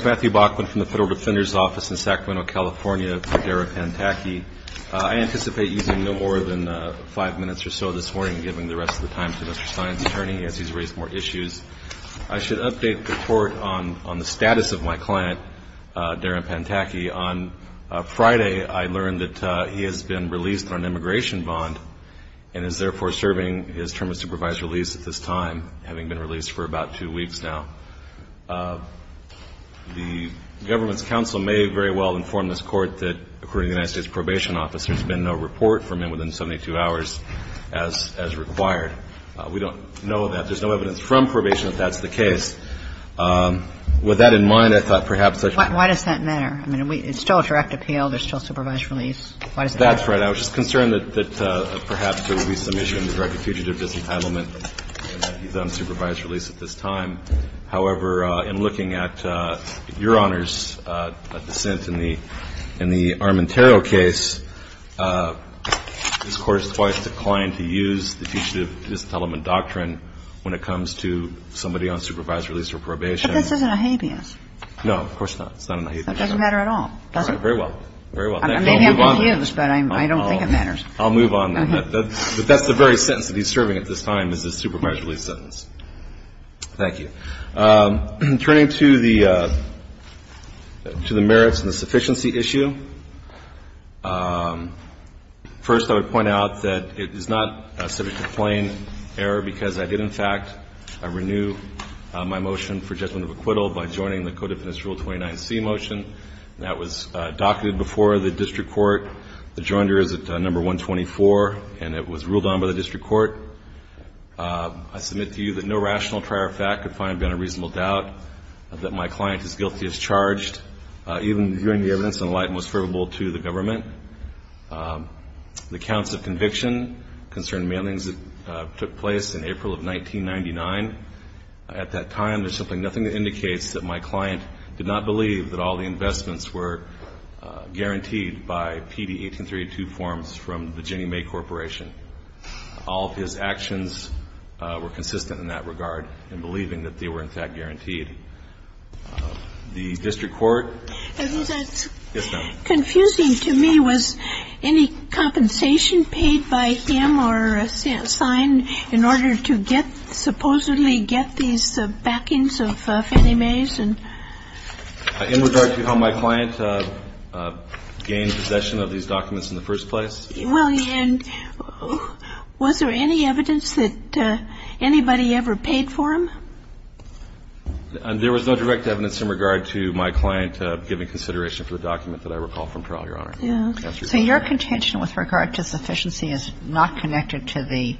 Matthew Bachman, Federal Defender's Office in Sacramento, California, for Darin Panthaky. I anticipate using no more than five minutes or so this morning, giving the rest of the time to Mr. Sine's attorney as he's raised more issues. I should update the Court on the status of my client, Darin Panthaky. On Friday, I learned that he has been released on an immigration bond and is therefore serving his term of supervised release at this time, having been released for about two weeks now. The government's counsel may very well inform this Court that, according to the United States Probation Office, there's been no report from him within 72 hours as required. We don't know that. There's no evidence from probation that that's the case. With that in mind, I thought perhaps I should – Why does that matter? I mean, it's still a direct appeal. There's still supervised release. Why does that matter? That's right. I was just concerned that perhaps there would be some issue in the direct fugitive disentitlement that he's on supervised release at this time. However, in looking at Your Honor's dissent in the Armentero case, this Court has twice declined to use the fugitive disentitlement doctrine when it comes to somebody on supervised release or probation. But this isn't a habeas. No, of course not. It's not a habeas. That doesn't matter at all, does it? Very well. Very well. Maybe I'm confused, but I don't think it matters. I'll move on then. But that's the very sentence that he's serving at this time is his supervised release sentence. Thank you. Turning to the merits and the sufficiency issue, first I would point out that it is not subject to plain error because I did, in fact, renew my motion for judgment of acquittal by joining the Codefinance Rule 29C motion. That was docketed before the district court. The joinder is at number 124, and it was ruled on by the district court. I submit to you that no rational trier of fact could find beyond a reasonable doubt that my client is guilty as charged, even viewing the evidence in the light most favorable to the government. The counts of conviction concern mailings that took place in April of 1999. At that time, there's simply nothing that indicates that my client did not believe that all the investments were guaranteed by PD 18382 forms from the Ginnie Mae Corporation. All of his actions were consistent in that regard in believing that they were, in fact, guaranteed. Yes, ma'am. And confusing to me was any compensation paid by him or assigned in order to get supposedly get these backings of Ginnie Mae's. In regard to how my client gained possession of these documents in the first place? Well, and was there any evidence that anybody ever paid for them? There was no direct evidence in regard to my client giving consideration for the document that I recall from trial, Your Honor. Yes. So your contention with regard to sufficiency is not connected to the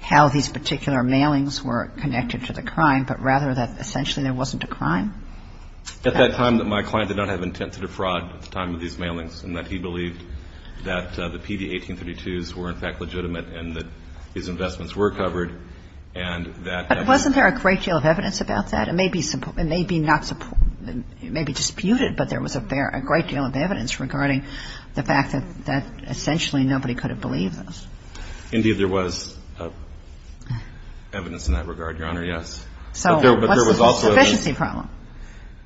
how these particular mailings were connected to the crime, but rather that essentially there wasn't a crime? At that time, my client did not have intent to defraud at the time of these mailings in that he believed that the PD 1832s were, in fact, legitimate and that his investments were covered, and that evidence. But wasn't there a great deal of evidence about that? It may be disputed, but there was a great deal of evidence regarding the fact that essentially nobody could have believed this. Indeed, there was evidence in that regard, Your Honor, yes. So what's the sufficiency problem?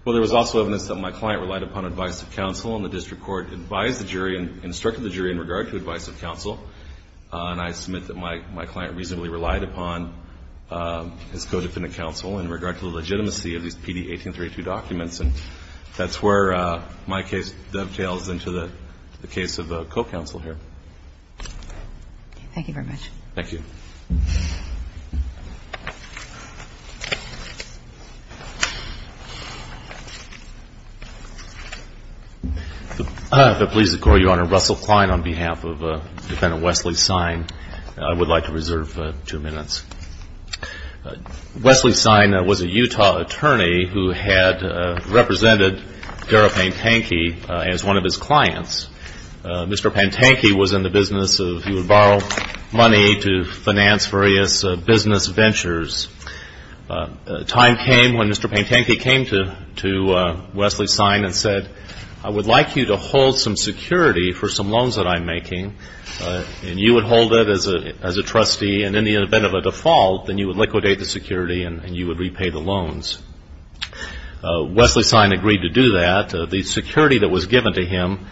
Well, there was also evidence that my client relied upon advice of counsel, and the district court advised the jury and instructed the jury in regard to advice of counsel. And I submit that my client reasonably relied upon his co-defendant counsel in regard to the legitimacy of these PD 1832 documents, and that's where my case dovetails into the case of the co-counsel here. Thank you very much. Thank you. If it pleases the Court, Your Honor, Russell Klein on behalf of Defendant Wesley Sign, I would like to reserve two minutes. Wesley Sign was a Utah attorney who had represented Darrell Pantanky as one of his clients. Mr. Pantanky was in the business of he would borrow money to finance various business ventures. Time came when Mr. Pantanky came to Wesley Sign and said, I would like you to hold some security for some loans that I'm making, and you would hold it as a trustee, and in the event of a default, then you would liquidate the security and you would repay the loans. Wesley Sign agreed to do that. The security that was given to him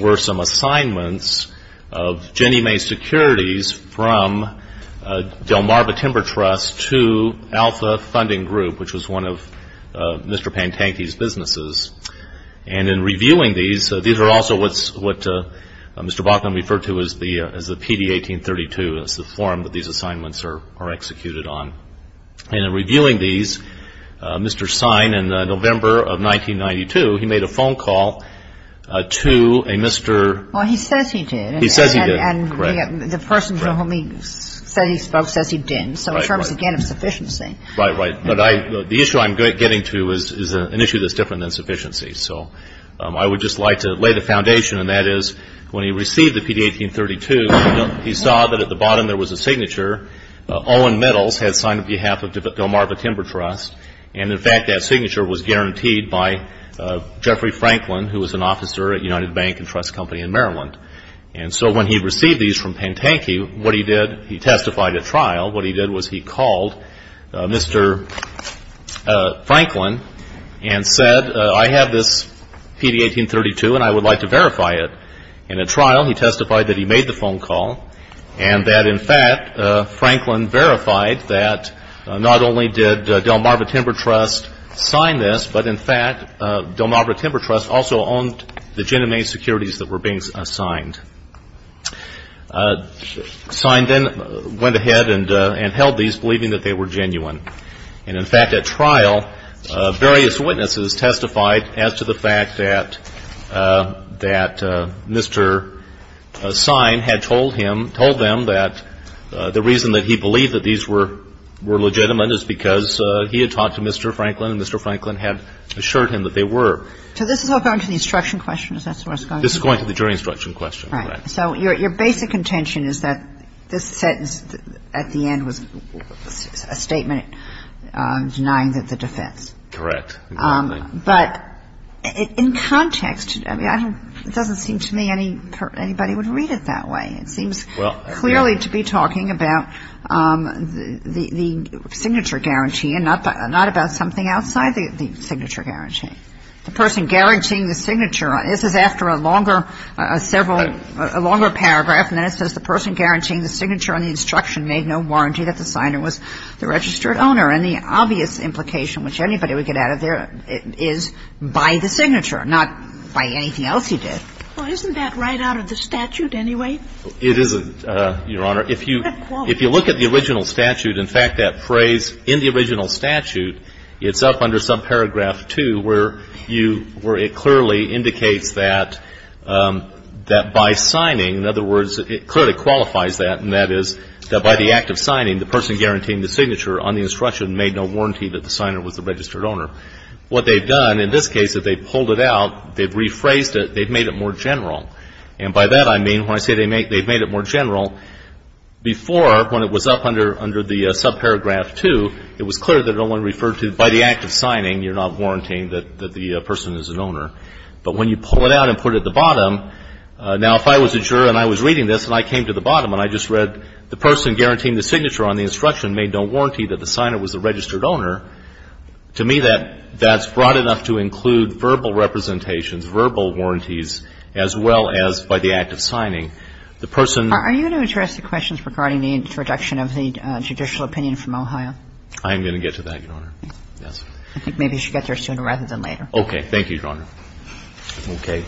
were some assignments of Ginnie Mae Securities from Delmarva Timber Trust to Alpha Funding Group, which was one of Mr. Pantanky's businesses, and in reviewing these, these are also what Mr. Baughman referred to as the PD 1832, and it's the form that these assignments are executed on. And in reviewing these, Mr. Sign, in November of 1992, he made a phone call to a Mr. He says he did. He says he did, correct. And the person for whom he said he spoke says he didn't, so in terms, again, of sufficiency. Right, right. But the issue I'm getting to is an issue that's different than sufficiency. So I would just like to lay the foundation, and that is when he received the PD 1832, he saw that at the bottom there was a signature, Owen Middles had signed on behalf of Delmarva Timber Trust, and in fact that signature was guaranteed by Jeffrey Franklin, who was an officer at United Bank and Trust Company in Maryland. And so when he received these from Pantanky, what he did, he testified at trial. What he did was he called Mr. Franklin and said, I have this PD 1832, and I would like to verify it. In a trial, he testified that he made the phone call, and that, in fact, Franklin verified that not only did Delmarva Timber Trust sign this, but, in fact, Delmarva Timber Trust also owned the Gin and Mane securities that were being signed. Signed in, went ahead and held these, believing that they were genuine. And, in fact, at trial, various witnesses testified as to the fact that Mr. Sign had told him, told them that the reason that he believed that these were legitimate is because he had talked to Mr. Franklin, and Mr. Franklin had assured him that they were. So this is all going to the instruction question, is that what's going on? This is going to the jury instruction question, correct. So your basic contention is that this sentence at the end was a statement denying that the defense. Correct. But in context, I mean, it doesn't seem to me anybody would read it that way. It seems clearly to be talking about the signature guarantee and not about something outside the signature guarantee. Okay. The person guaranteeing the signature, this is after a longer several, a longer paragraph, and then it says the person guaranteeing the signature on the instruction made no warranty that the signer was the registered owner. And the obvious implication, which anybody would get out of there, is by the signature, not by anything else he did. Well, isn't that right out of the statute anyway? It is, Your Honor. If you look at the original statute, in fact, that phrase in the original statute, it's up under subparagraph 2 where you, where it clearly indicates that by signing, in other words, it clearly qualifies that, and that is that by the act of signing, the person guaranteeing the signature on the instruction made no warranty that the signer was the registered owner. What they've done in this case is they've pulled it out, they've rephrased it, they've made it more general. And by that I mean when I say they've made it more general, before when it was up under the subparagraph 2, it was clear that it only referred to by the act of signing, you're not warranting that the person is an owner. But when you pull it out and put it at the bottom, now, if I was a juror and I was reading this and I came to the bottom and I just read the person guaranteeing the signature on the instruction made no warranty that the signer was the registered owner, to me, that's broad enough to include verbal representations, verbal warranties, as well as by the act of signing. The person ---- I'm going to get to that, Your Honor. Yes. I think maybe you should get there sooner rather than later. Okay. Thank you, Your Honor. Okay.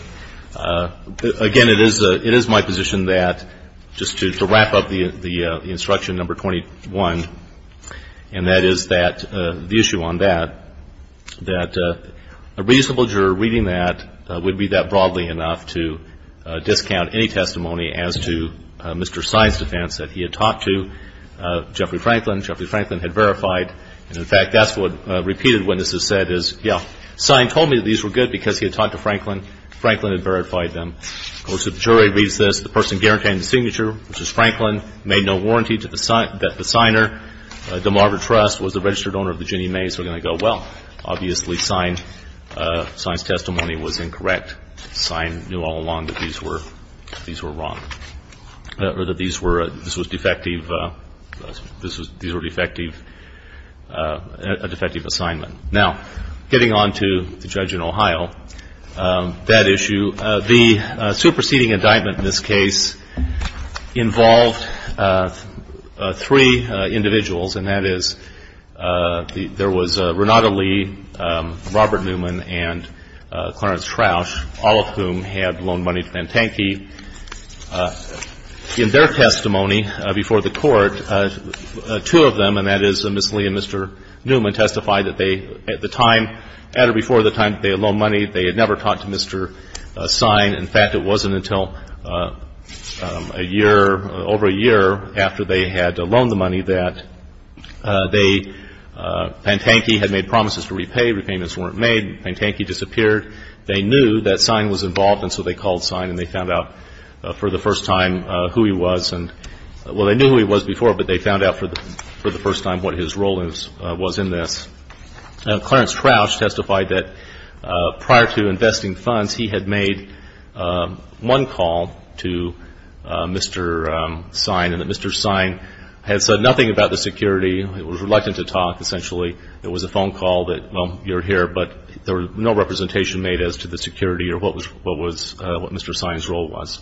Again, it is my position that just to wrap up the instruction number 21, and that is that the issue on that, that a reasonable juror reading that would be that broadly enough to discount any testimony as to Mr. Sine's defense that he had talked to Jeffrey Franklin. Jeffrey Franklin had verified. And, in fact, that's what repeated witnesses said is, yeah, Sine told me that these were good because he had talked to Franklin. Franklin had verified them. Of course, if the jury reads this, the person guaranteeing the signature, which is Franklin, made no warranty that the signer, DeMarva Trust, was the registered owner of the Ginnie Mae's, we're going to go, well, obviously Sine's correct. Sine knew all along that these were wrong or that these were a defective assignment. Now, getting on to the judge in Ohio, that issue, the superseding indictment in this case involved three individuals, and that is there was Renata Lee, Robert Newman, and Clarence Troush, all of whom had loaned money to Pantanke. In their testimony before the Court, two of them, and that is Ms. Lee and Mr. Newman, testified that they, at the time, at or before the time that they had loaned money, they had never talked to Mr. Sine. In fact, it wasn't until a year, over a year after they had loaned the money that Pantanke had made promises to repay. Repayments weren't made. Pantanke disappeared. They knew that Sine was involved, and so they called Sine, and they found out for the first time who he was. Well, they knew who he was before, but they found out for the first time what his role was in this. Clarence Troush testified that prior to investing funds, he had made one call to Mr. Sine, and that Mr. Sine had said nothing about the security. He was reluctant to talk, essentially. There was a phone call that, well, you're here, but there was no representation made as to the security or what Mr. Sine's role was.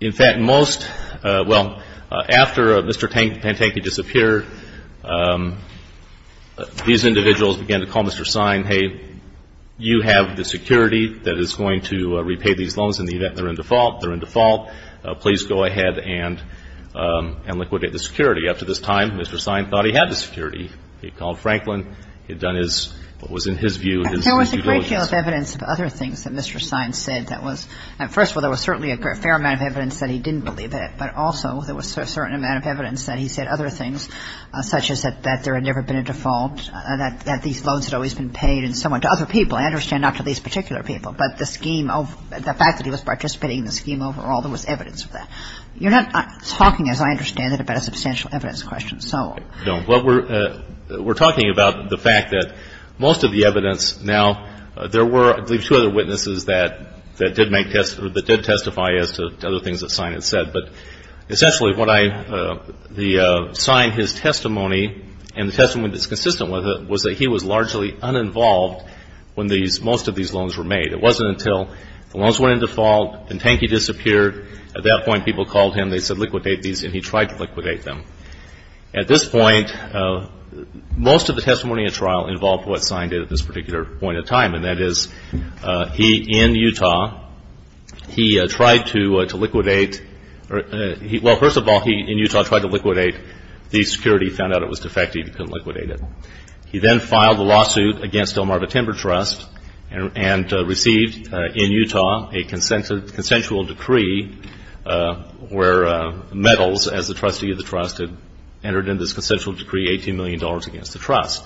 In fact, most, well, after Mr. Pantanke disappeared, these individuals began to call Mr. Sine, hey, you have the security that is going to repay these loans in the event they're in default. They're in default. Please go ahead and liquidate the security. Up to this time, Mr. Sine thought he had the security. He called Franklin. He had done his, what was in his view, his due diligence. There was a great deal of evidence of other things that Mr. Sine said that was, first of all, there was certainly a fair amount of evidence that he didn't believe in it, but also there was a certain amount of evidence that he said other things, such as that there had never been a default, that these loans had always been paid in some way to other people. I understand not to these particular people, but the scheme of, the fact that he was participating in the scheme overall, there was evidence of that. You're not talking, as I understand it, about a substantial evidence question, so. No. Well, we're talking about the fact that most of the evidence now, there were, I believe, two other witnesses that did testify as to other things that Sine had said. But essentially what I, Sine, his testimony and the testimony that's consistent with it was that he was largely uninvolved when most of these loans were made. It wasn't until the loans went into default, then Tankey disappeared. At that point, people called him. They said liquidate these, and he tried to liquidate them. At this point, most of the testimony in trial involved what Sine did at this particular point in time, and that is he, in Utah, he tried to liquidate, well, first of all, he, in Utah, tried to liquidate these securities. He found out it was defective. He couldn't liquidate it. He then filed a lawsuit against Delmarva Timber Trust and received in Utah a consensual decree where Metals, as the trustee of the trust, had entered into this consensual decree, $18 million against the trust.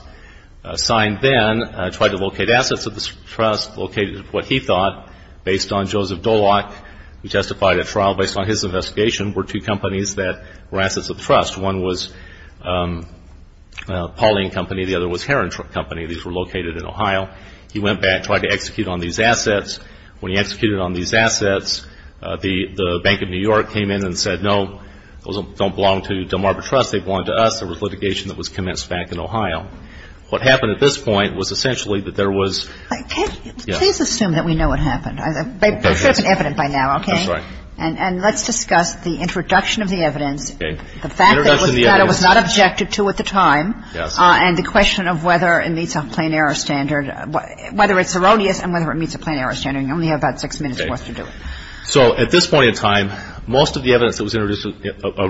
Sine then tried to locate assets of this trust, located what he thought, based on Joseph Doloch, who testified at trial, based on his investigation, were two companies that were assets of the trust. One was Pauline Company. The other was Heron Company. These were located in Ohio. He went back, tried to execute on these assets. When he executed on these assets, the Bank of New York came in and said, no, those don't belong to Delmarva Trust. They belong to us. There was litigation that was commenced back in Ohio. What happened at this point was essentially that there was ‑‑ Can you please assume that we know what happened? We have evidence by now, okay? That's right. And let's discuss the introduction of the evidence. Introduction of the evidence. The fact that it was not objected to at the time. Yes. And the question of whether it meets a plain error standard. Whether it's erroneous and whether it meets a plain error standard. You only have about six minutes for us to do it. So at this point in time, most of the evidence that was introduced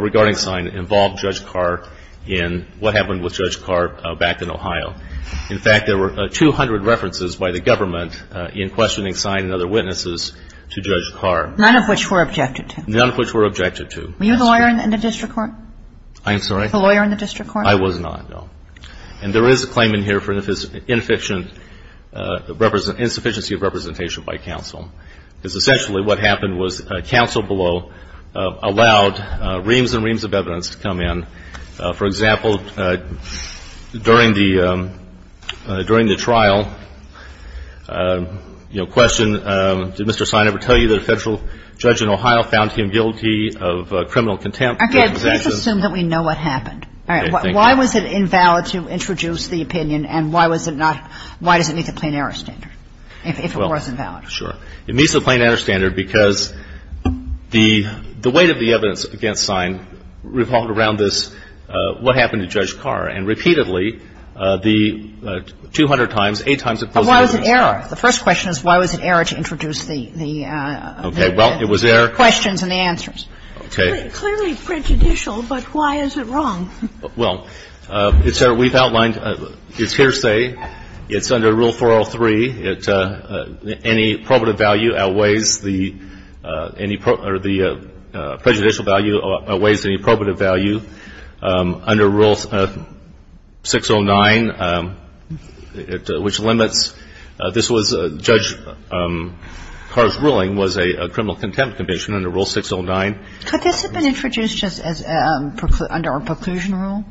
regarding Sine involved Judge Carr in what happened with Judge Carr back in Ohio. In fact, there were 200 references by the government in questioning Sine and other witnesses to Judge Carr. None of which were objected to. None of which were objected to. Were you the lawyer in the district court? I'm sorry? The lawyer in the district court? I was not, no. And there is a claim in here for inefficient ‑‑ insufficiency of representation by counsel. Because essentially what happened was counsel below allowed reams and reams of evidence to come in. For example, during the trial, you know, question, did Mr. Sine ever tell you that a federal judge in Ohio found him guilty of criminal contempt of his actions? Okay. Let's assume that we know what happened. Okay. Thank you. All right. Why was it invalid to introduce the opinion and why was it not ‑‑ why does it meet the plain error standard if it was invalid? Well, sure. It meets the plain error standard because the weight of the evidence against Sine revolved around this, what happened to Judge Carr. And repeatedly, the 200 times, eight times it posed an issue. But why was it error? The first question is why was it error to introduce the ‑‑ Okay. Well, it was error. The questions and the answers. Okay. It's clearly prejudicial, but why is it wrong? Well, it's error. We've outlined its hearsay. It's under Rule 403. Any probative value outweighs the ‑‑ any ‑‑ or the prejudicial value outweighs the probative value. Under Rule 609, which limits ‑‑ this was Judge Carr's ruling was a criminal contempt conviction, under Rule 609. Could this have been introduced just as ‑‑ under a preclusion rule?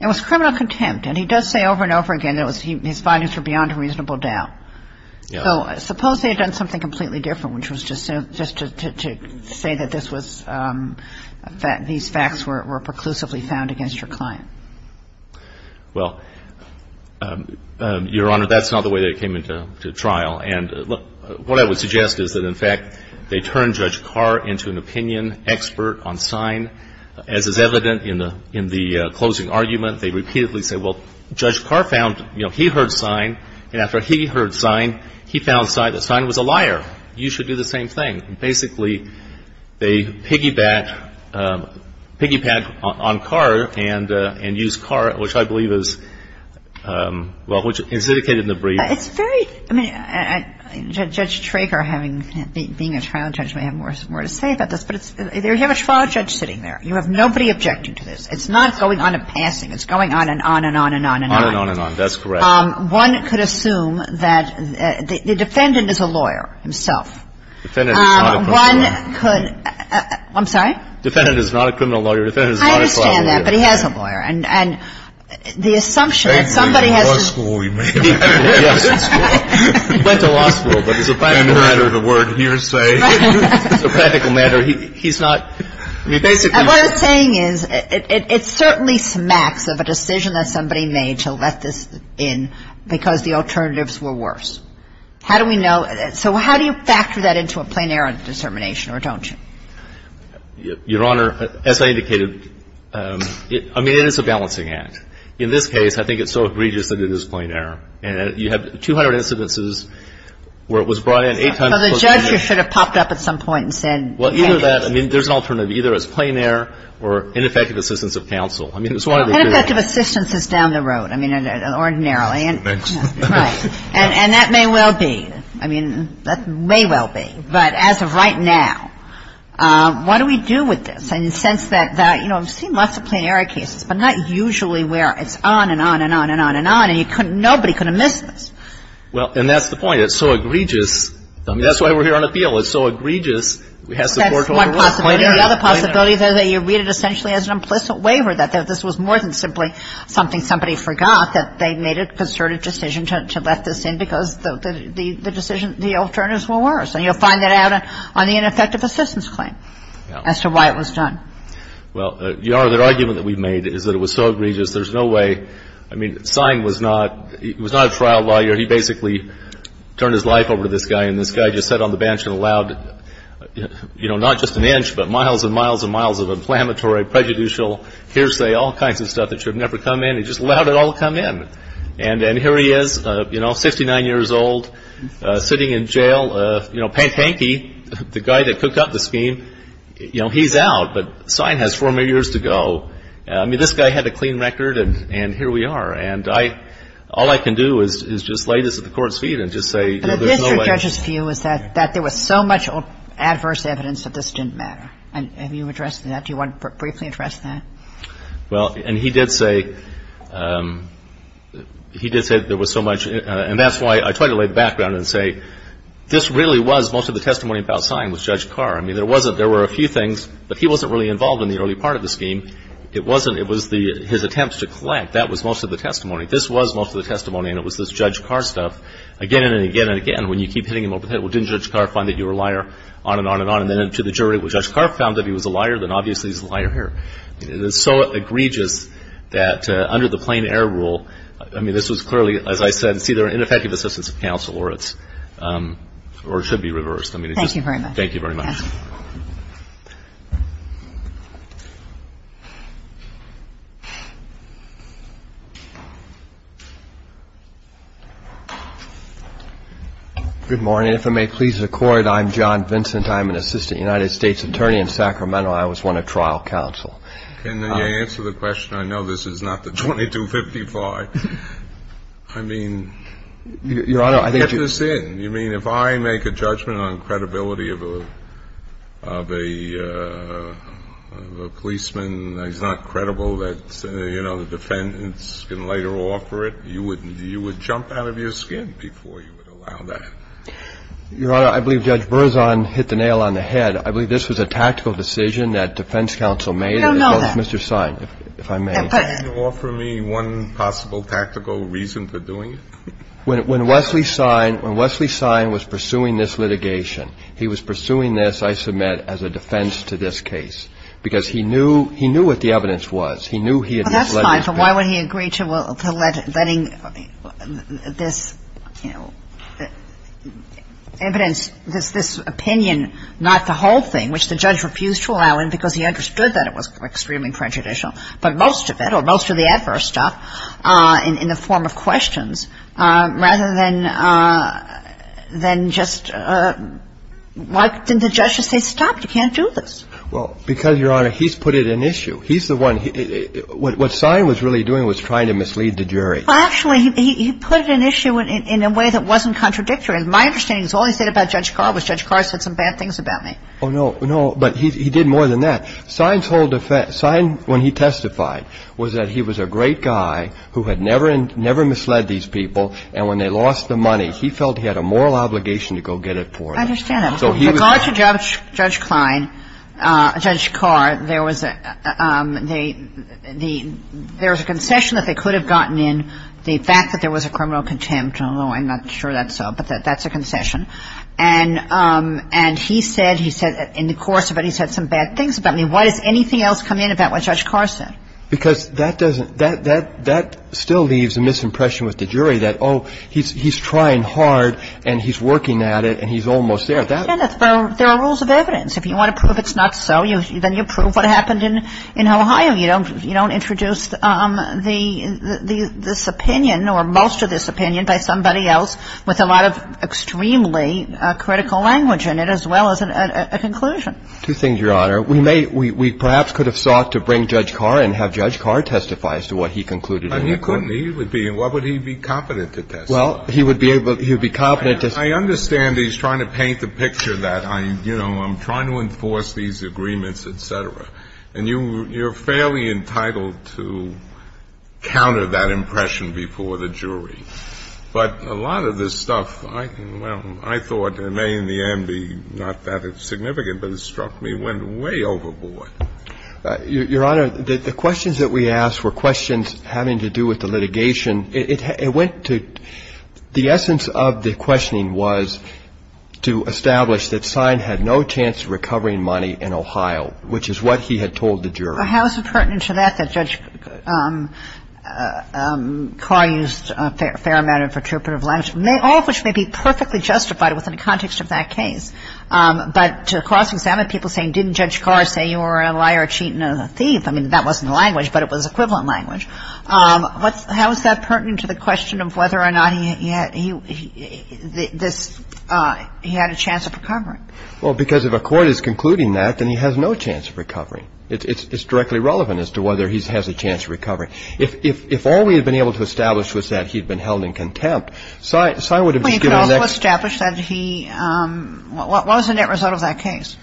It was criminal contempt. And he does say over and over again that his findings were beyond a reasonable doubt. So suppose they had done something completely different, which was just to say that this was ‑‑ that these facts were preclusively found against your client. Well, Your Honor, that's not the way that it came into trial. And what I would suggest is that, in fact, they turned Judge Carr into an opinion expert on sign. As is evident in the closing argument, they repeatedly say, well, Judge Carr found, you know, he heard sign. And after he heard sign, he found sign. The sign was a liar. You should do the same thing. Basically, they piggybacked on Carr and used Carr, which I believe is, well, which is indicated in the brief. It's very ‑‑ I mean, Judge Trager, being a trial judge, may have more to say about this. But you have a trial judge sitting there. You have nobody objecting to this. It's not going on a passing. It's going on and on and on and on. On and on and on. That's correct. One could assume that the defendant is a lawyer himself. Defendant is not a criminal lawyer. One could ‑‑ I'm sorry? Defendant is not a criminal lawyer. Defendant is not a trial lawyer. I understand that. But he has a lawyer. And the assumption that somebody has ‑‑ He went to law school, he may have. Yes. He went to law school, but as a practical matter, the word hearsay. As a practical matter, he's not ‑‑ What I'm saying is, it certainly smacks of a decision that somebody made to let this in because the alternatives were worse. How do we know? So how do you factor that into a plenary determination or don't you? Your Honor, as I indicated, I mean, it is a balancing act. In this case, I think it's so egregious that it is plenary. And you have 200 instances where it was brought in eight times. So the judge should have popped up at some point and said ‑‑ Well, either that. I mean, there's an alternative. Either it's plenary or ineffective assistance of counsel. I mean, it's one of the two. Ineffective assistance is down the road. I mean, ordinarily. Right. And that may well be. I mean, that may well be. But as of right now, what do we do with this? You know, I've seen lots of plenary cases. But not usually where it's on and on and on and on and on. And nobody could have missed this. Well, and that's the point. It's so egregious. I mean, that's why we're here on appeal. It's so egregious. That's one possibility. The other possibility is that you read it essentially as an implicit waiver, that this was more than simply something somebody forgot, that they made a concerted decision to let this in because the alternatives were worse. And you'll find that out on the ineffective assistance claim as to why it was done. Well, Your Honor, the argument that we've made is that it was so egregious, there's no way. I mean, Sine was not a trial lawyer. He basically turned his life over to this guy. And this guy just sat on the bench and allowed, you know, not just an inch, but miles and miles and miles of inflammatory, prejudicial, hearsay, all kinds of stuff that should have never come in. He just allowed it all to come in. And here he is, you know, 69 years old, sitting in jail. You know, Panky, the guy that cooked up the scheme, you know, he's out. But Sine has four more years to go. I mean, this guy had a clean record, and here we are. And all I can do is just lay this at the Court's feet and just say there's no way. But the district judge's view is that there was so much adverse evidence that this didn't matter. Have you addressed that? Do you want to briefly address that? Well, and he did say there was so much. And that's why I try to lay the background and say this really was most of the testimony about Sine was Judge Carr. I mean, there were a few things, but he wasn't really involved in the early part of the scheme. It was his attempts to collect. That was most of the testimony. This was most of the testimony, and it was this Judge Carr stuff again and again and again. When you keep hitting him over the head, well, didn't Judge Carr find that you were a liar? On and on and on. And then to the jury, well, Judge Carr found that he was a liar. Then obviously he's a liar here. It is so egregious that under the plain air rule, I mean, this was clearly, as I said, it's either ineffective assistance of counsel or it should be reversed. Thank you very much. Thank you very much. Good morning. If I may please the Court, I'm John Vincent. I'm an assistant United States attorney in Sacramento. I was one of trial counsel. Can you answer the question? I know this is not the 2255. I mean, get this in. You mean if I make a judgment on credibility of a policeman that he's not credible that, you know, the defendants can later offer it, you would jump out of your skin before you would allow that? Your Honor, I believe Judge Berzon hit the nail on the head. I believe this was a tactical decision that defense counsel made. I don't know that. Mr. Sein, if I may. Can you offer me one possible tactical reason for doing it? When Wesley Sein, when Wesley Sein was pursuing this litigation, he was pursuing this, I submit, as a defense to this case because he knew, he knew what the evidence was. He knew he had not let him. Well, that's fine, but why would he agree to letting this, you know, evidence, this opinion, not the whole thing, which the judge refused to allow him because he understood that it was extremely prejudicial, but most of it or most of the adverse stuff in the form of questions rather than just, why didn't the judge just say stop, you can't do this? Well, because, Your Honor, he's put it in issue. He's the one, what Sein was really doing was trying to mislead the jury. Well, actually, he put it in issue in a way that wasn't contradictory. My understanding is all he said about Judge Carr was Judge Carr said some bad things about me. Oh, no, no. But he did more than that. Sein's whole defense, Sein, when he testified, was that he was a great guy who had never misled these people, and when they lost the money, he felt he had a moral obligation to go get it for them. I understand that. So he was... With regard to Judge Klein, Judge Carr, there was a concession that they could have gotten in, the fact that there was a criminal contempt, although I'm not sure that's so, but that's a concession. And he said, in the course of it, he said some bad things about me. Why does anything else come in about what Judge Carr said? Because that still leaves a misimpression with the jury that, oh, he's trying hard, and he's working at it, and he's almost there. Kenneth, there are rules of evidence. If you want to prove it's not so, then you prove what happened in Ohio. You don't introduce this opinion or most of this opinion by somebody else with a lot of extremely critical language in it, as well as a conclusion. Two things, Your Honor. We may – we perhaps could have sought to bring Judge Carr and have Judge Carr testify as to what he concluded in the court. He couldn't. He would be – what would he be competent to testify? Well, he would be able – he would be competent to say... I understand he's trying to paint the picture that I'm, you know, I'm trying to enforce these agreements, et cetera. And you're fairly entitled to counter that impression before the jury. But a lot of this stuff, I can – well, I thought it may in the end be not that significant, but it struck me, went way overboard. Your Honor, the questions that we asked were questions having to do with the litigation. It went to – the essence of the questioning was to establish that Sine had no chance of recovering money in Ohio, which is what he had told the jury. But how is it pertinent to that that Judge Carr used a fair amount of interpretive language, all of which may be perfectly justified within the context of that case? But to cross-examine people saying, didn't Judge Carr say you were a liar, a cheat, and a thief? I mean, that wasn't the language, but it was equivalent language. How is that pertinent to the question of whether or not he had this – he had a chance of recovering? Well, because if a court is concluding that, then he has no chance of recovering. It's directly relevant as to whether he has a chance of recovering. If all we had been able to establish was that he had been held in contempt, Sine would have been given the next – But he could also establish that he – what was the net result of that case?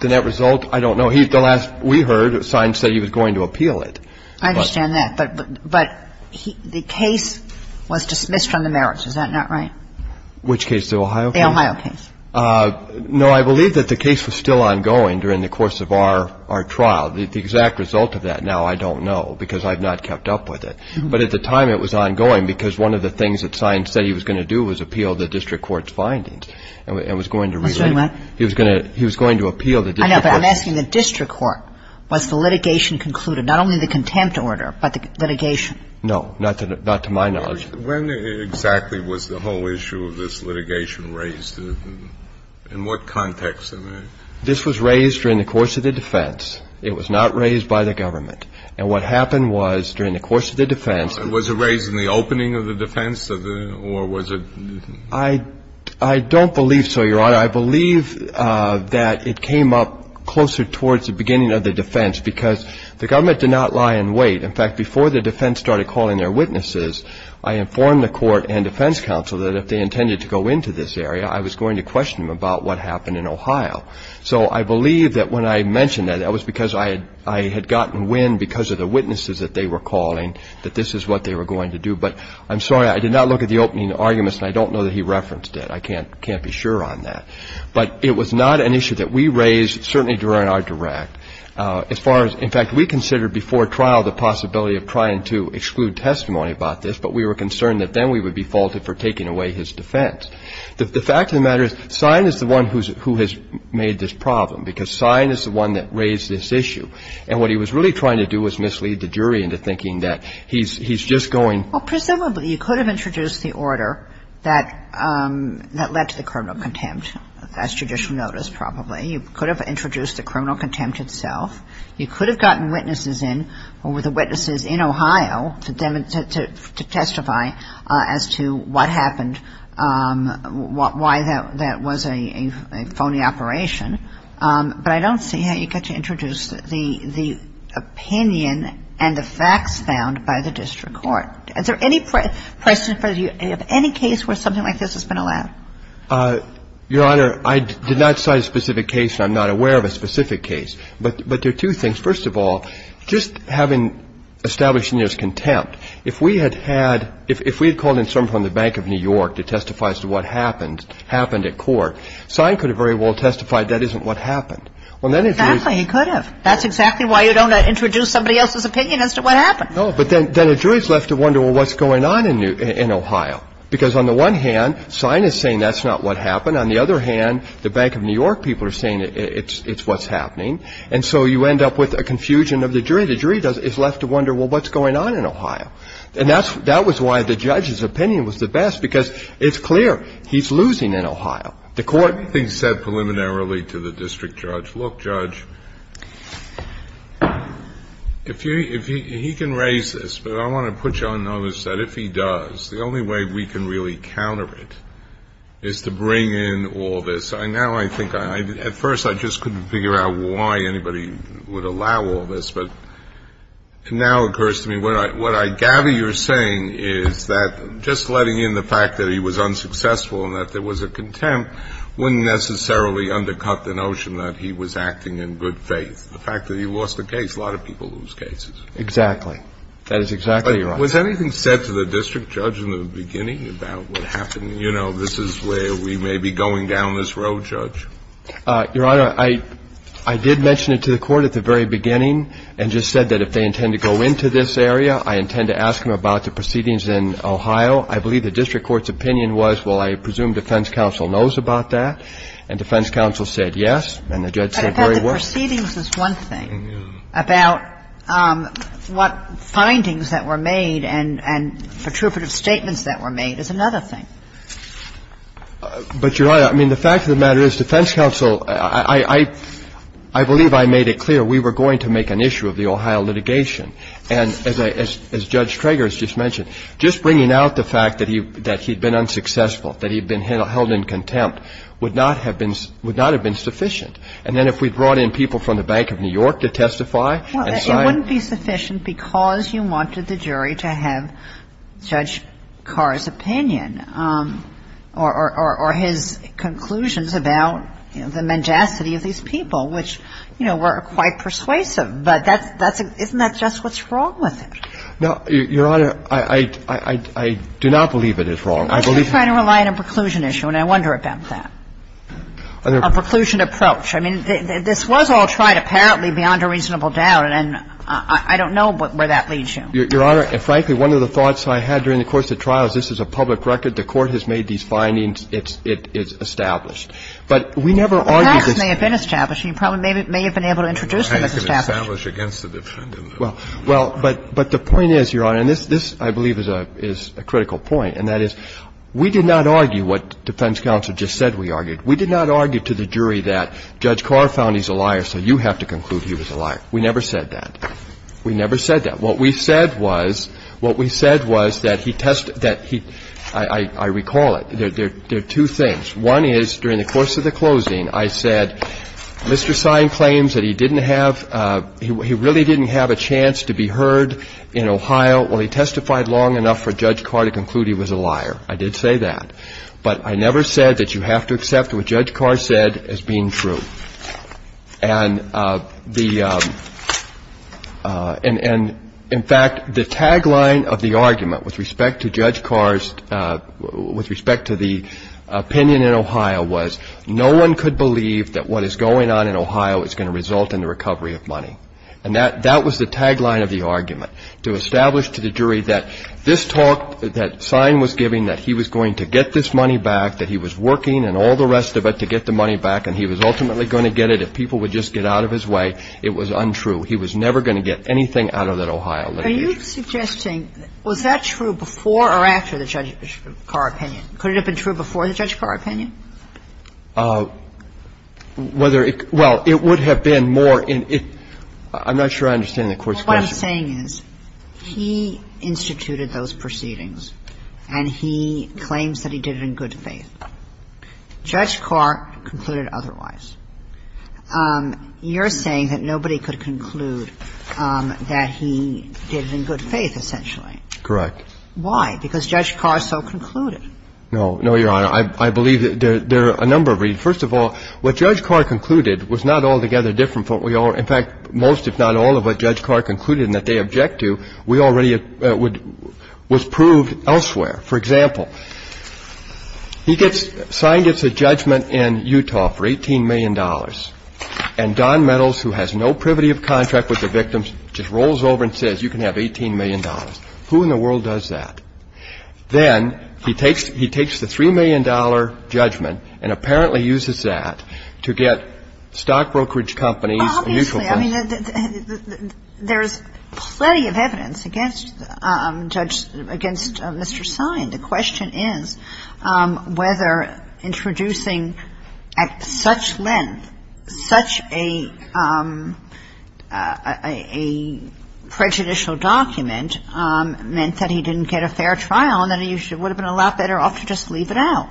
The net result? I don't know. The last we heard, Sine said he was going to appeal it. I understand that. But the case was dismissed from the merits. Is that not right? Which case? The Ohio case? The Ohio case. No, I believe that the case was still ongoing during the course of our trial. The exact result of that now I don't know because I've not kept up with it. But at the time it was ongoing because one of the things that Sine said he was going to do was appeal the district court's findings and was going to relay – Excuse me, what? He was going to appeal the district court's – I know, but I'm asking the district court. Was the litigation concluded, not only the contempt order, but the litigation? No, not to my knowledge. When exactly was the whole issue of this litigation raised? In what context? This was raised during the course of the defense. It was not raised by the government. And what happened was during the course of the defense – Was it raised in the opening of the defense or was it – I don't believe so, Your Honor. I believe that it came up closer towards the beginning of the defense because the government did not lie in wait. In fact, before the defense started calling their witnesses, I informed the court and defense counsel that if they intended to go into this area, I was going to question them about what happened in Ohio. So I believe that when I mentioned that, that was because I had gotten wind because of the witnesses that they were calling that this is what they were going to do. But I'm sorry, I did not look at the opening arguments and I don't know that he referenced it. I can't be sure on that. But it was not an issue that we raised, certainly during our direct. In fact, we considered before trial the possibility of trying to exclude testimony about this, but we were concerned that then we would be faulted for taking away his defense. The fact of the matter is, Sine is the one who has made this problem because Sine is the one that raised this issue. And what he was really trying to do was mislead the jury into thinking that he's just going – Well, presumably, you could have introduced the order that led to the criminal contempt, as judicial notice probably. You could have introduced the criminal contempt itself. You could have gotten witnesses in, or were the witnesses in Ohio, to testify as to what happened, why that was a phony operation. But I don't see how you get to introduce the opinion and the facts found by the district court. Is there any question for you of any case where something like this has been allowed? Your Honor, I did not cite a specific case, and I'm not aware of a specific case. But there are two things. First of all, just having established New York's contempt, if we had had – if we had called in someone from the Bank of New York to testify as to what happened, happened at court, Sine could have very well testified that isn't what happened. Exactly. He could have. That's exactly why you don't introduce somebody else's opinion as to what happened. No, but then a jury is left to wonder, well, what's going on in Ohio? Because on the one hand, Sine is saying that's not what happened. On the other hand, the Bank of New York people are saying it's what's happening. And so you end up with a confusion of the jury. The jury is left to wonder, well, what's going on in Ohio? And that was why the judge's opinion was the best, because it's clear he's losing in Ohio. The court – Everything said preliminarily to the district judge. Look, Judge, if you – he can raise this, but I want to put you on notice that if he does, the only way we can really counter it is to bring in all this. Now I think – at first I just couldn't figure out why anybody would allow all this, but it now occurs to me what I gather you're saying is that just letting in the fact that he was unsuccessful and that there was a contempt wouldn't necessarily undercut the notion that he was acting in good faith, the fact that he lost a case. A lot of people lose cases. Exactly. That is exactly right. Was anything said to the district judge in the beginning about what happened? You know, this is where we may be going down this road, Judge. Your Honor, I did mention it to the court at the very beginning and just said that if they intend to go into this area, I intend to ask him about the proceedings in Ohio. I believe the district court's opinion was, well, I presume defense counsel knows about that. And defense counsel said yes, and the judge said very well. Well, the proceedings is one thing. About what findings that were made and protruperative statements that were made is another thing. But, Your Honor, I mean, the fact of the matter is defense counsel, I believe I made it clear we were going to make an issue of the Ohio litigation. And as Judge Trager has just mentioned, just bringing out the fact that he had been unsuccessful, that he had been held in contempt, would not have been sufficient. And then if we brought in people from the Bank of New York to testify and cite them. Well, it wouldn't be sufficient because you wanted the jury to have Judge Carr's opinion or his conclusions about the mendacity of these people, which, you know, were quite persuasive. But that's the question. Isn't that just what's wrong with it? No, Your Honor, I do not believe it is wrong. I'm just trying to rely on a preclusion issue, and I wonder about that. A preclusion approach. I mean, this was all tried, apparently, beyond a reasonable doubt, and I don't know where that leads you. Your Honor, frankly, one of the thoughts I had during the course of the trial is this is a public record. The Court has made these findings. It's established. But we never argued this. The facts may have been established. You probably may have been able to introduce them as established. I don't know how you can establish against a defendant. Well, but the point is, Your Honor, and this, I believe, is a critical point, and that is we did not argue what defense counsel just said we argued. We did not argue to the jury that Judge Carr found he's a liar, so you have to conclude he was a liar. We never said that. We never said that. What we said was, what we said was that he tested that he – I recall it. There are two things. One is, during the course of the closing, I said, Mr. Sine claims that he didn't have – he really didn't have a chance to be heard in Ohio. Well, he testified long enough for Judge Carr to conclude he was a liar. I did say that. But I never said that you have to accept what Judge Carr said as being true. And the – and, in fact, the tagline of the argument with respect to Judge Carr's – with respect to the opinion in Ohio was, no one could believe that what is going on in Ohio is going to result in the recovery of money. And that was the tagline of the argument. So we have to establish to the jury that this talk that Sine was giving, that he was going to get this money back, that he was working and all the rest of it to get the money back and he was ultimately going to get it, if people would just get out of his way, it was untrue. He was never going to get anything out of that Ohio litigation. Are you suggesting – was that true before or after the Judge Carr opinion? Could it have been true before the Judge Carr opinion? Whether it – well, it would have been more in – I'm not sure I understand the Court's question. What I'm saying is he instituted those proceedings and he claims that he did it in good faith. Judge Carr concluded otherwise. You're saying that nobody could conclude that he did it in good faith, essentially. Correct. Why? Because Judge Carr so concluded. No, no, Your Honor. I believe there are a number of reasons. First of all, what Judge Carr concluded was not altogether different from what we I mean, if you look at the other cases, the other cases that Judge Carr concluded and that they object to, we already would – was proved elsewhere. For example, he gets – Sine gets a judgment in Utah for $18 million and Don Meadows, who has no privity of contract with the victims, just rolls over and says, you can have $18 million. Who in the world does that? Then he takes the $3 million judgment and apparently uses that to get stock brokerage companies a mutual fund. Obviously. I mean, there's plenty of evidence against Judge – against Mr. Sine. The question is whether introducing at such length such a prejudicial document meant that he didn't get a fair trial and that he would have been a lot better off to just leave it out.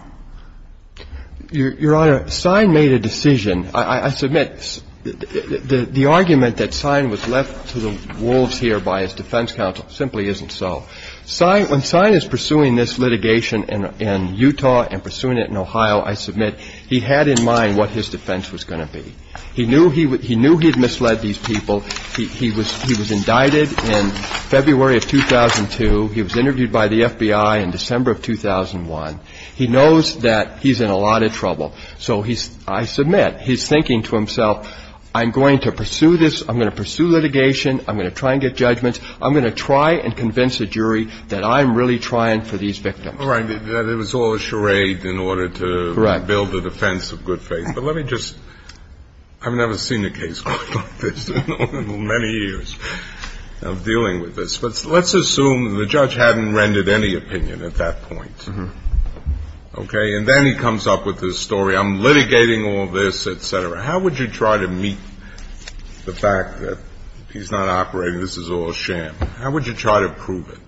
Your Honor, Sine made a decision. I submit the argument that Sine was left to the wolves here by his defense counsel simply isn't so. Sine – when Sine is pursuing this litigation in Utah and pursuing it in Ohio, I submit he had in mind what his defense was going to be. He knew he had misled these people. He was indicted in February of 2002. He was interviewed by the FBI in December of 2001. He knows that he's in a lot of trouble. So he's – I submit he's thinking to himself, I'm going to pursue this. I'm going to pursue litigation. I'm going to try and get judgments. I'm going to try and convince a jury that I'm really trying for these victims. All right. It was all a charade in order to build a defense of good faith. Correct. But let me just – I've never seen a case quite like this in many years of dealing with this. But let's assume the judge hadn't rendered any opinion at that point. Mm-hmm. Okay? And then he comes up with this story, I'm litigating all this, et cetera. How would you try to meet the fact that he's not operating, this is all sham? How would you try to prove it?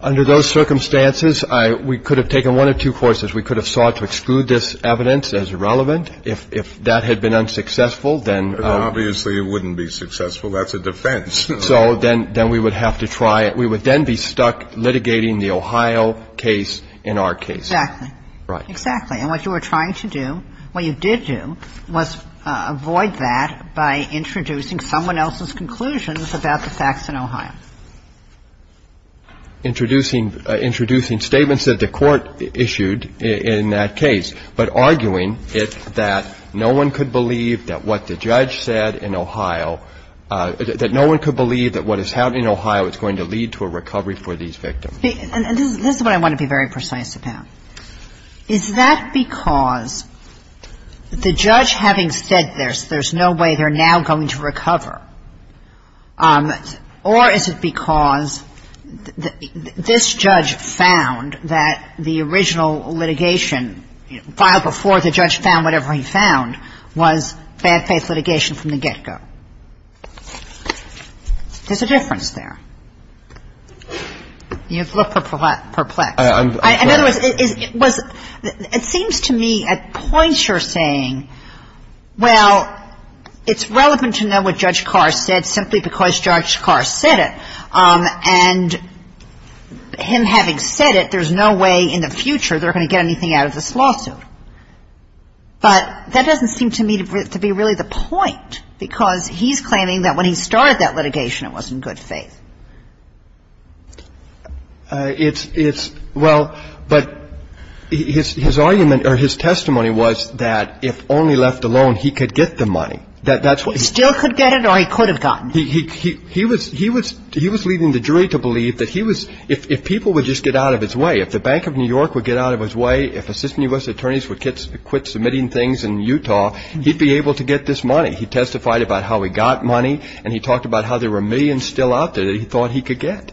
Under those circumstances, we could have taken one of two courses. We could have sought to exclude this evidence as irrelevant. If that had been unsuccessful, then – Obviously, it wouldn't be successful. That's a defense. So then we would have to try – we would then be stuck litigating the Ohio case in our case. Exactly. Right. Exactly. And what you were trying to do, what you did do, was avoid that by introducing someone else's conclusions about the facts in Ohio. Introducing statements that the court issued in that case, but arguing that no one could believe that what the judge said in Ohio, that no one could believe that what is happening in Ohio is going to lead to a recovery for these victims. And this is what I want to be very precise about. Is that because the judge having said this, there's no way they're now going to recover? Or is it because this judge found that the original litigation, filed before the judge found whatever he found, was bad-faith litigation from the get-go? There's a difference there. You look perplexed. I'm sorry. In other words, it was – it seems to me at points you're saying, well, it's relevant to know what Judge Carlin said, simply because Judge Carr said it. And him having said it, there's no way in the future they're going to get anything out of this lawsuit. But that doesn't seem to me to be really the point, because he's claiming that when he started that litigation, it was in good faith. It's – well, but his argument or his testimony was that if only left alone, he could get the money. He still could get it or he could have gotten it. He was leading the jury to believe that he was – if people would just get out of his way, if the Bank of New York would get out of his way, if assistant U.S. attorneys would quit submitting things in Utah, he'd be able to get this money. He testified about how he got money, and he talked about how there were millions still out there that he thought he could get.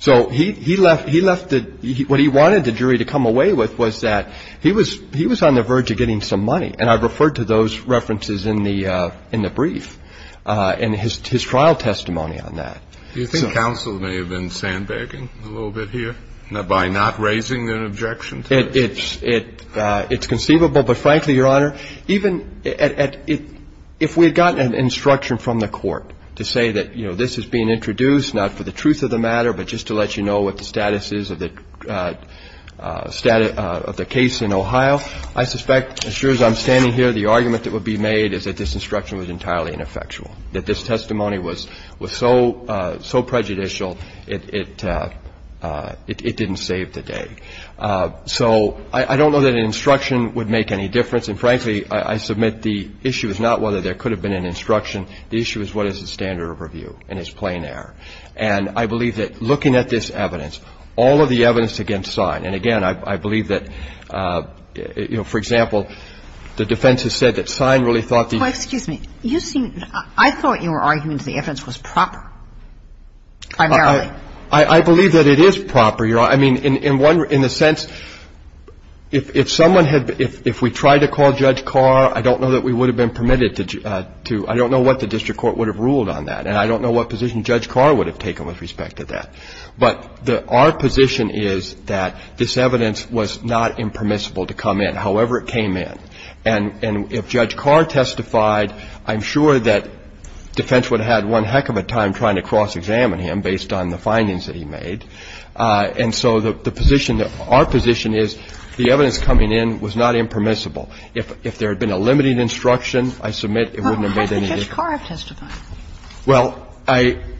So he left – what he wanted the jury to come away with was that he was on the verge of getting some money. And I've referred to those references in the brief and his trial testimony on that. Do you think counsel may have been sandbagging a little bit here by not raising an objection to it? It's conceivable. But, frankly, Your Honor, even if we had gotten an instruction from the court to say that, you know, this is being introduced not for the truth of the matter but just to let you know what the status is of the case in Ohio, I suspect, as sure as I'm standing here, the argument that would be made is that this instruction was entirely ineffectual, that this testimony was so prejudicial it didn't save the day. So I don't know that an instruction would make any difference. And, frankly, I submit the issue is not whether there could have been an instruction. The issue is what is the standard of review, and it's plain error. And I believe that looking at this evidence, all of the evidence against Sine – you know, for example, the defense has said that Sine really thought the – Oh, excuse me. You seem – I thought you were arguing that the evidence was proper, primarily. I believe that it is proper, Your Honor. I mean, in one – in a sense, if someone had – if we tried to call Judge Carr, I don't know that we would have been permitted to – I don't know what the district court would have ruled on that, and I don't know what position Judge Carr would have taken with respect to that. But our position is that this evidence was not impermissible to come in, however it came in. And if Judge Carr testified, I'm sure that defense would have had one heck of a time trying to cross-examine him based on the findings that he made. And so the position – our position is the evidence coming in was not impermissible. If there had been a limiting instruction, I submit it wouldn't have made any difference. Well, why didn't Judge Carr testify? Well, I –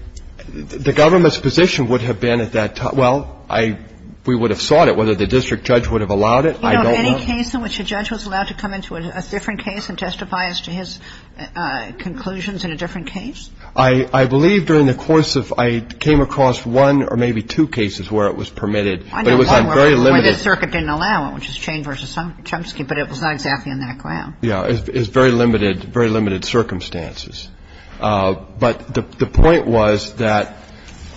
the government's position would have been at that time – well, I – we would have sought it, whether the district judge would have allowed it. I don't know. You know of any case in which a judge was allowed to come into a different case and testify as to his conclusions in a different case? I believe during the course of – I came across one or maybe two cases where it was permitted. I know one where this circuit didn't allow it, which is Chain v. Chomsky, but it was not exactly on that ground. Yeah. It's very limited – very limited circumstances. But the point was that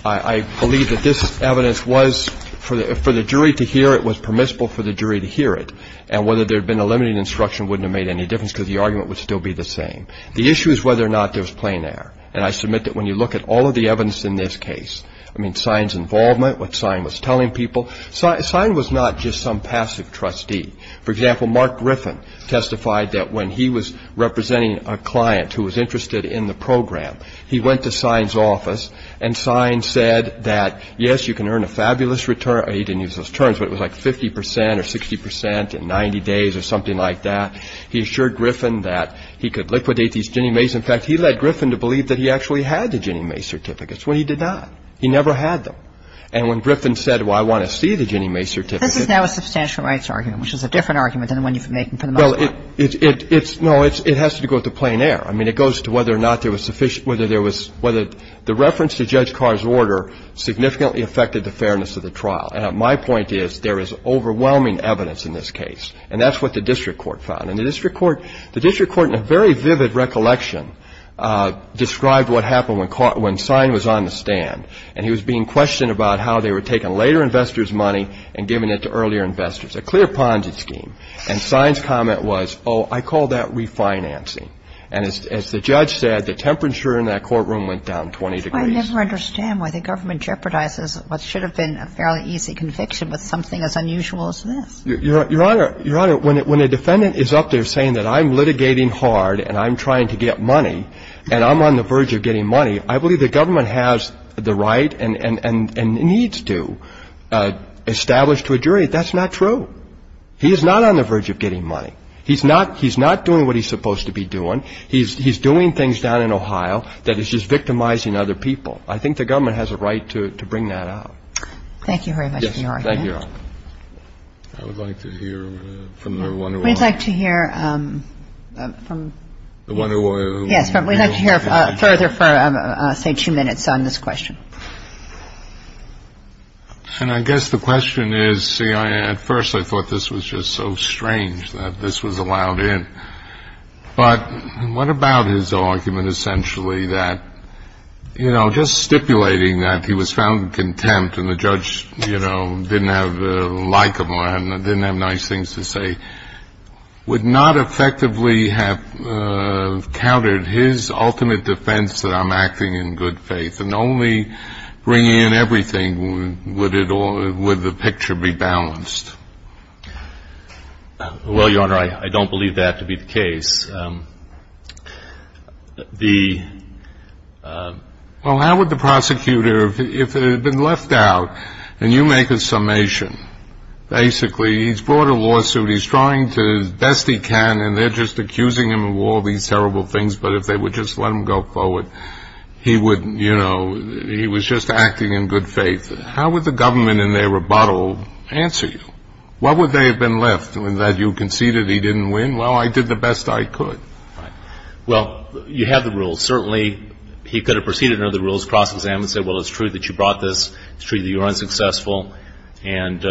I believe that this evidence was – for the jury to hear it was permissible for the jury to hear it. And whether there had been a limiting instruction wouldn't have made any difference because the argument would still be the same. The issue is whether or not there was plain air. And I submit that when you look at all of the evidence in this case, I mean, Sine's involvement, what Sine was telling people, Sine was not just some passive trustee. For example, Mark Griffin testified that when he was representing a client who was interested in the program, he went to Sine's office and Sine said that, yes, you can earn a fabulous return. He didn't use those terms, but it was like 50 percent or 60 percent in 90 days or something like that. He assured Griffin that he could liquidate these Ginnie Mae's. In fact, he led Griffin to believe that he actually had the Ginnie Mae's certificates when he did not. He never had them. And when Griffin said, well, I want to see the Ginnie Mae's certificates. But that's not a substantial rights argument, which is a different argument than the one you've been making for the most part. No, it has to do with the plain air. I mean, it goes to whether or not there was sufficient – whether there was – whether the reference to Judge Carr's order significantly affected the fairness of the trial. And my point is there is overwhelming evidence in this case. And that's what the district court found. And the district court – the district court, in a very vivid recollection, described what happened when Sine was on the stand. And he was being questioned about how they were taking later investors' money and giving it to earlier investors. A clear-ponded scheme. And Sine's comment was, oh, I call that refinancing. And as the judge said, the temperature in that courtroom went down 20 degrees. I never understand why the government jeopardizes what should have been a fairly easy conviction with something as unusual as this. Your Honor, when a defendant is up there saying that I'm litigating hard and I'm trying to get money and I'm on the verge of getting money, I believe the government has the right and needs to establish to a jury that that's not true. He is not on the verge of getting money. He's not – he's not doing what he's supposed to be doing. He's doing things down in Ohio that is just victimizing other people. I think the government has a right to bring that out. Thank you very much, Your Honor. Yes. Thank you, Your Honor. I would like to hear from the Wonder Warrior. We'd like to hear from – Yes. We'd like to hear further for, say, two minutes on this question. And I guess the question is, see, at first I thought this was just so strange that this was allowed in. But what about his argument essentially that, you know, just stipulating that he was found in contempt and the judge, you know, didn't like him or didn't have nice things to say, would not effectively have countered his ultimate defense that I'm acting in good faith and only bringing in everything would the picture be balanced? Well, Your Honor, I don't believe that to be the case. Well, how would the prosecutor, if he had been left out, and you make a summation, basically he's brought a lawsuit, he's trying to, as best he can, and they're just accusing him of all these terrible things, but if they would just let him go forward, he would, you know, he was just acting in good faith. How would the government in their rebuttal answer you? What would they have been left, that you conceded he didn't win? Well, I did the best I could. Right. Well, you have the rules. Certainly, he could have proceeded under the rules, cross-examined and said, well, it's true that you brought this, it's true that you're unsuccessful, and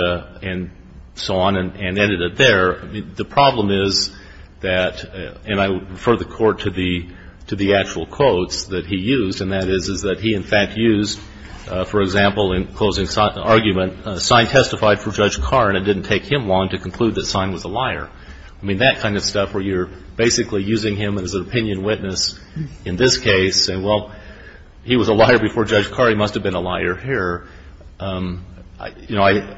so on, and ended it there. I mean, the problem is that, and I refer the Court to the actual quotes that he used, and that is, is that he, in fact, used, for example, in closing the argument, Sine testified for Judge Carr and it didn't take him long to conclude that Sine was a liar. I mean, that kind of stuff where you're basically using him as an opinion witness in this case, and, well, he was a liar before Judge Carr, he must have been a liar here. You know,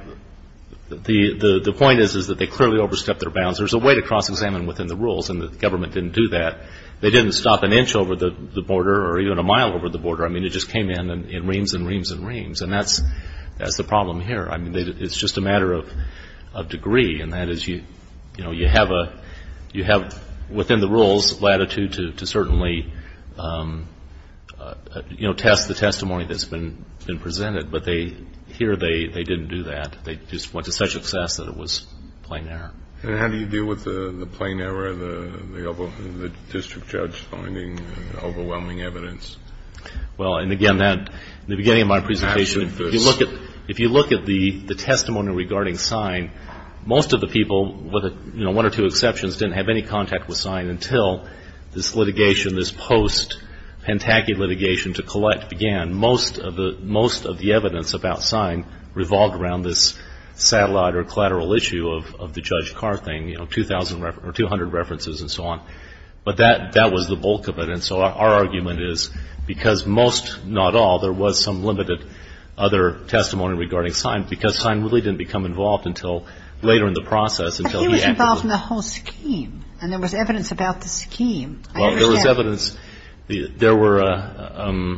the point is that they clearly overstepped their bounds. There's a way to cross-examine within the rules, and the government didn't do that. They didn't stop an inch over the border or even a mile over the border. I mean, it just came in in reams and reams and reams, and that's the problem here. I mean, it's just a matter of degree, and that is, you know, you have a, you have, within the rules, latitude to certainly, you know, test the testimony that's been presented, but they, here they didn't do that. They just went to such excess that it was plain error. And how do you deal with the plain error, the district judge finding overwhelming evidence? Well, and again, that, in the beginning of my presentation, if you look at, you know, the testimony regarding Sign, most of the people, with, you know, one or two exceptions, didn't have any contact with Sign until this litigation, this post-Pentaki litigation to collect began. Most of the evidence about Sign revolved around this satellite or collateral issue of the Judge Carr thing, you know, 2,000 or 200 references and so on. But that was the bulk of it, and so our argument is because most, not all, there was some limited other testimony regarding Sign, because Sign really didn't become involved until later in the process, until he actually. But he was involved in the whole scheme, and there was evidence about the scheme. I understand. Well, there was evidence. There were,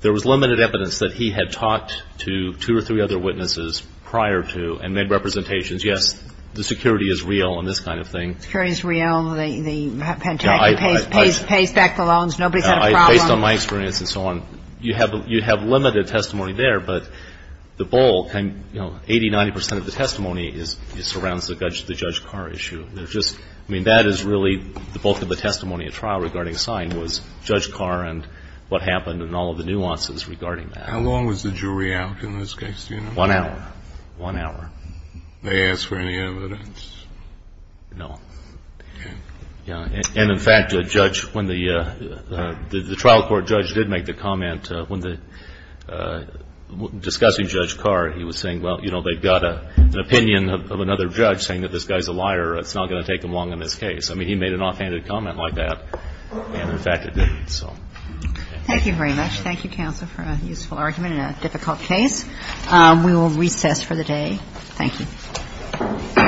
there was limited evidence that he had talked to two or three other witnesses prior to and made representations, yes, the security is real and this kind of thing. The security is real, the Pentaki pays back the loans, nobody's had a problem. Based on my experience and so on, you have limited testimony there, but the bulk, you know, 80, 90 percent of the testimony surrounds the Judge Carr issue. I mean, that is really the bulk of the testimony at trial regarding Sign was Judge Carr and what happened and all of the nuances regarding that. How long was the jury out in this case? One hour. One hour. They asked for any evidence? No. Okay. And, in fact, a judge, when the trial court judge did make the comment, when discussing Judge Carr, he was saying, well, you know, they've got an opinion of another judge saying that this guy's a liar, it's not going to take them long on this case. I mean, he made an offhanded comment like that, and, in fact, it did, so. Thank you very much. Thank you, counsel, for a useful argument in a difficult case. We will recess for the day. Thank you.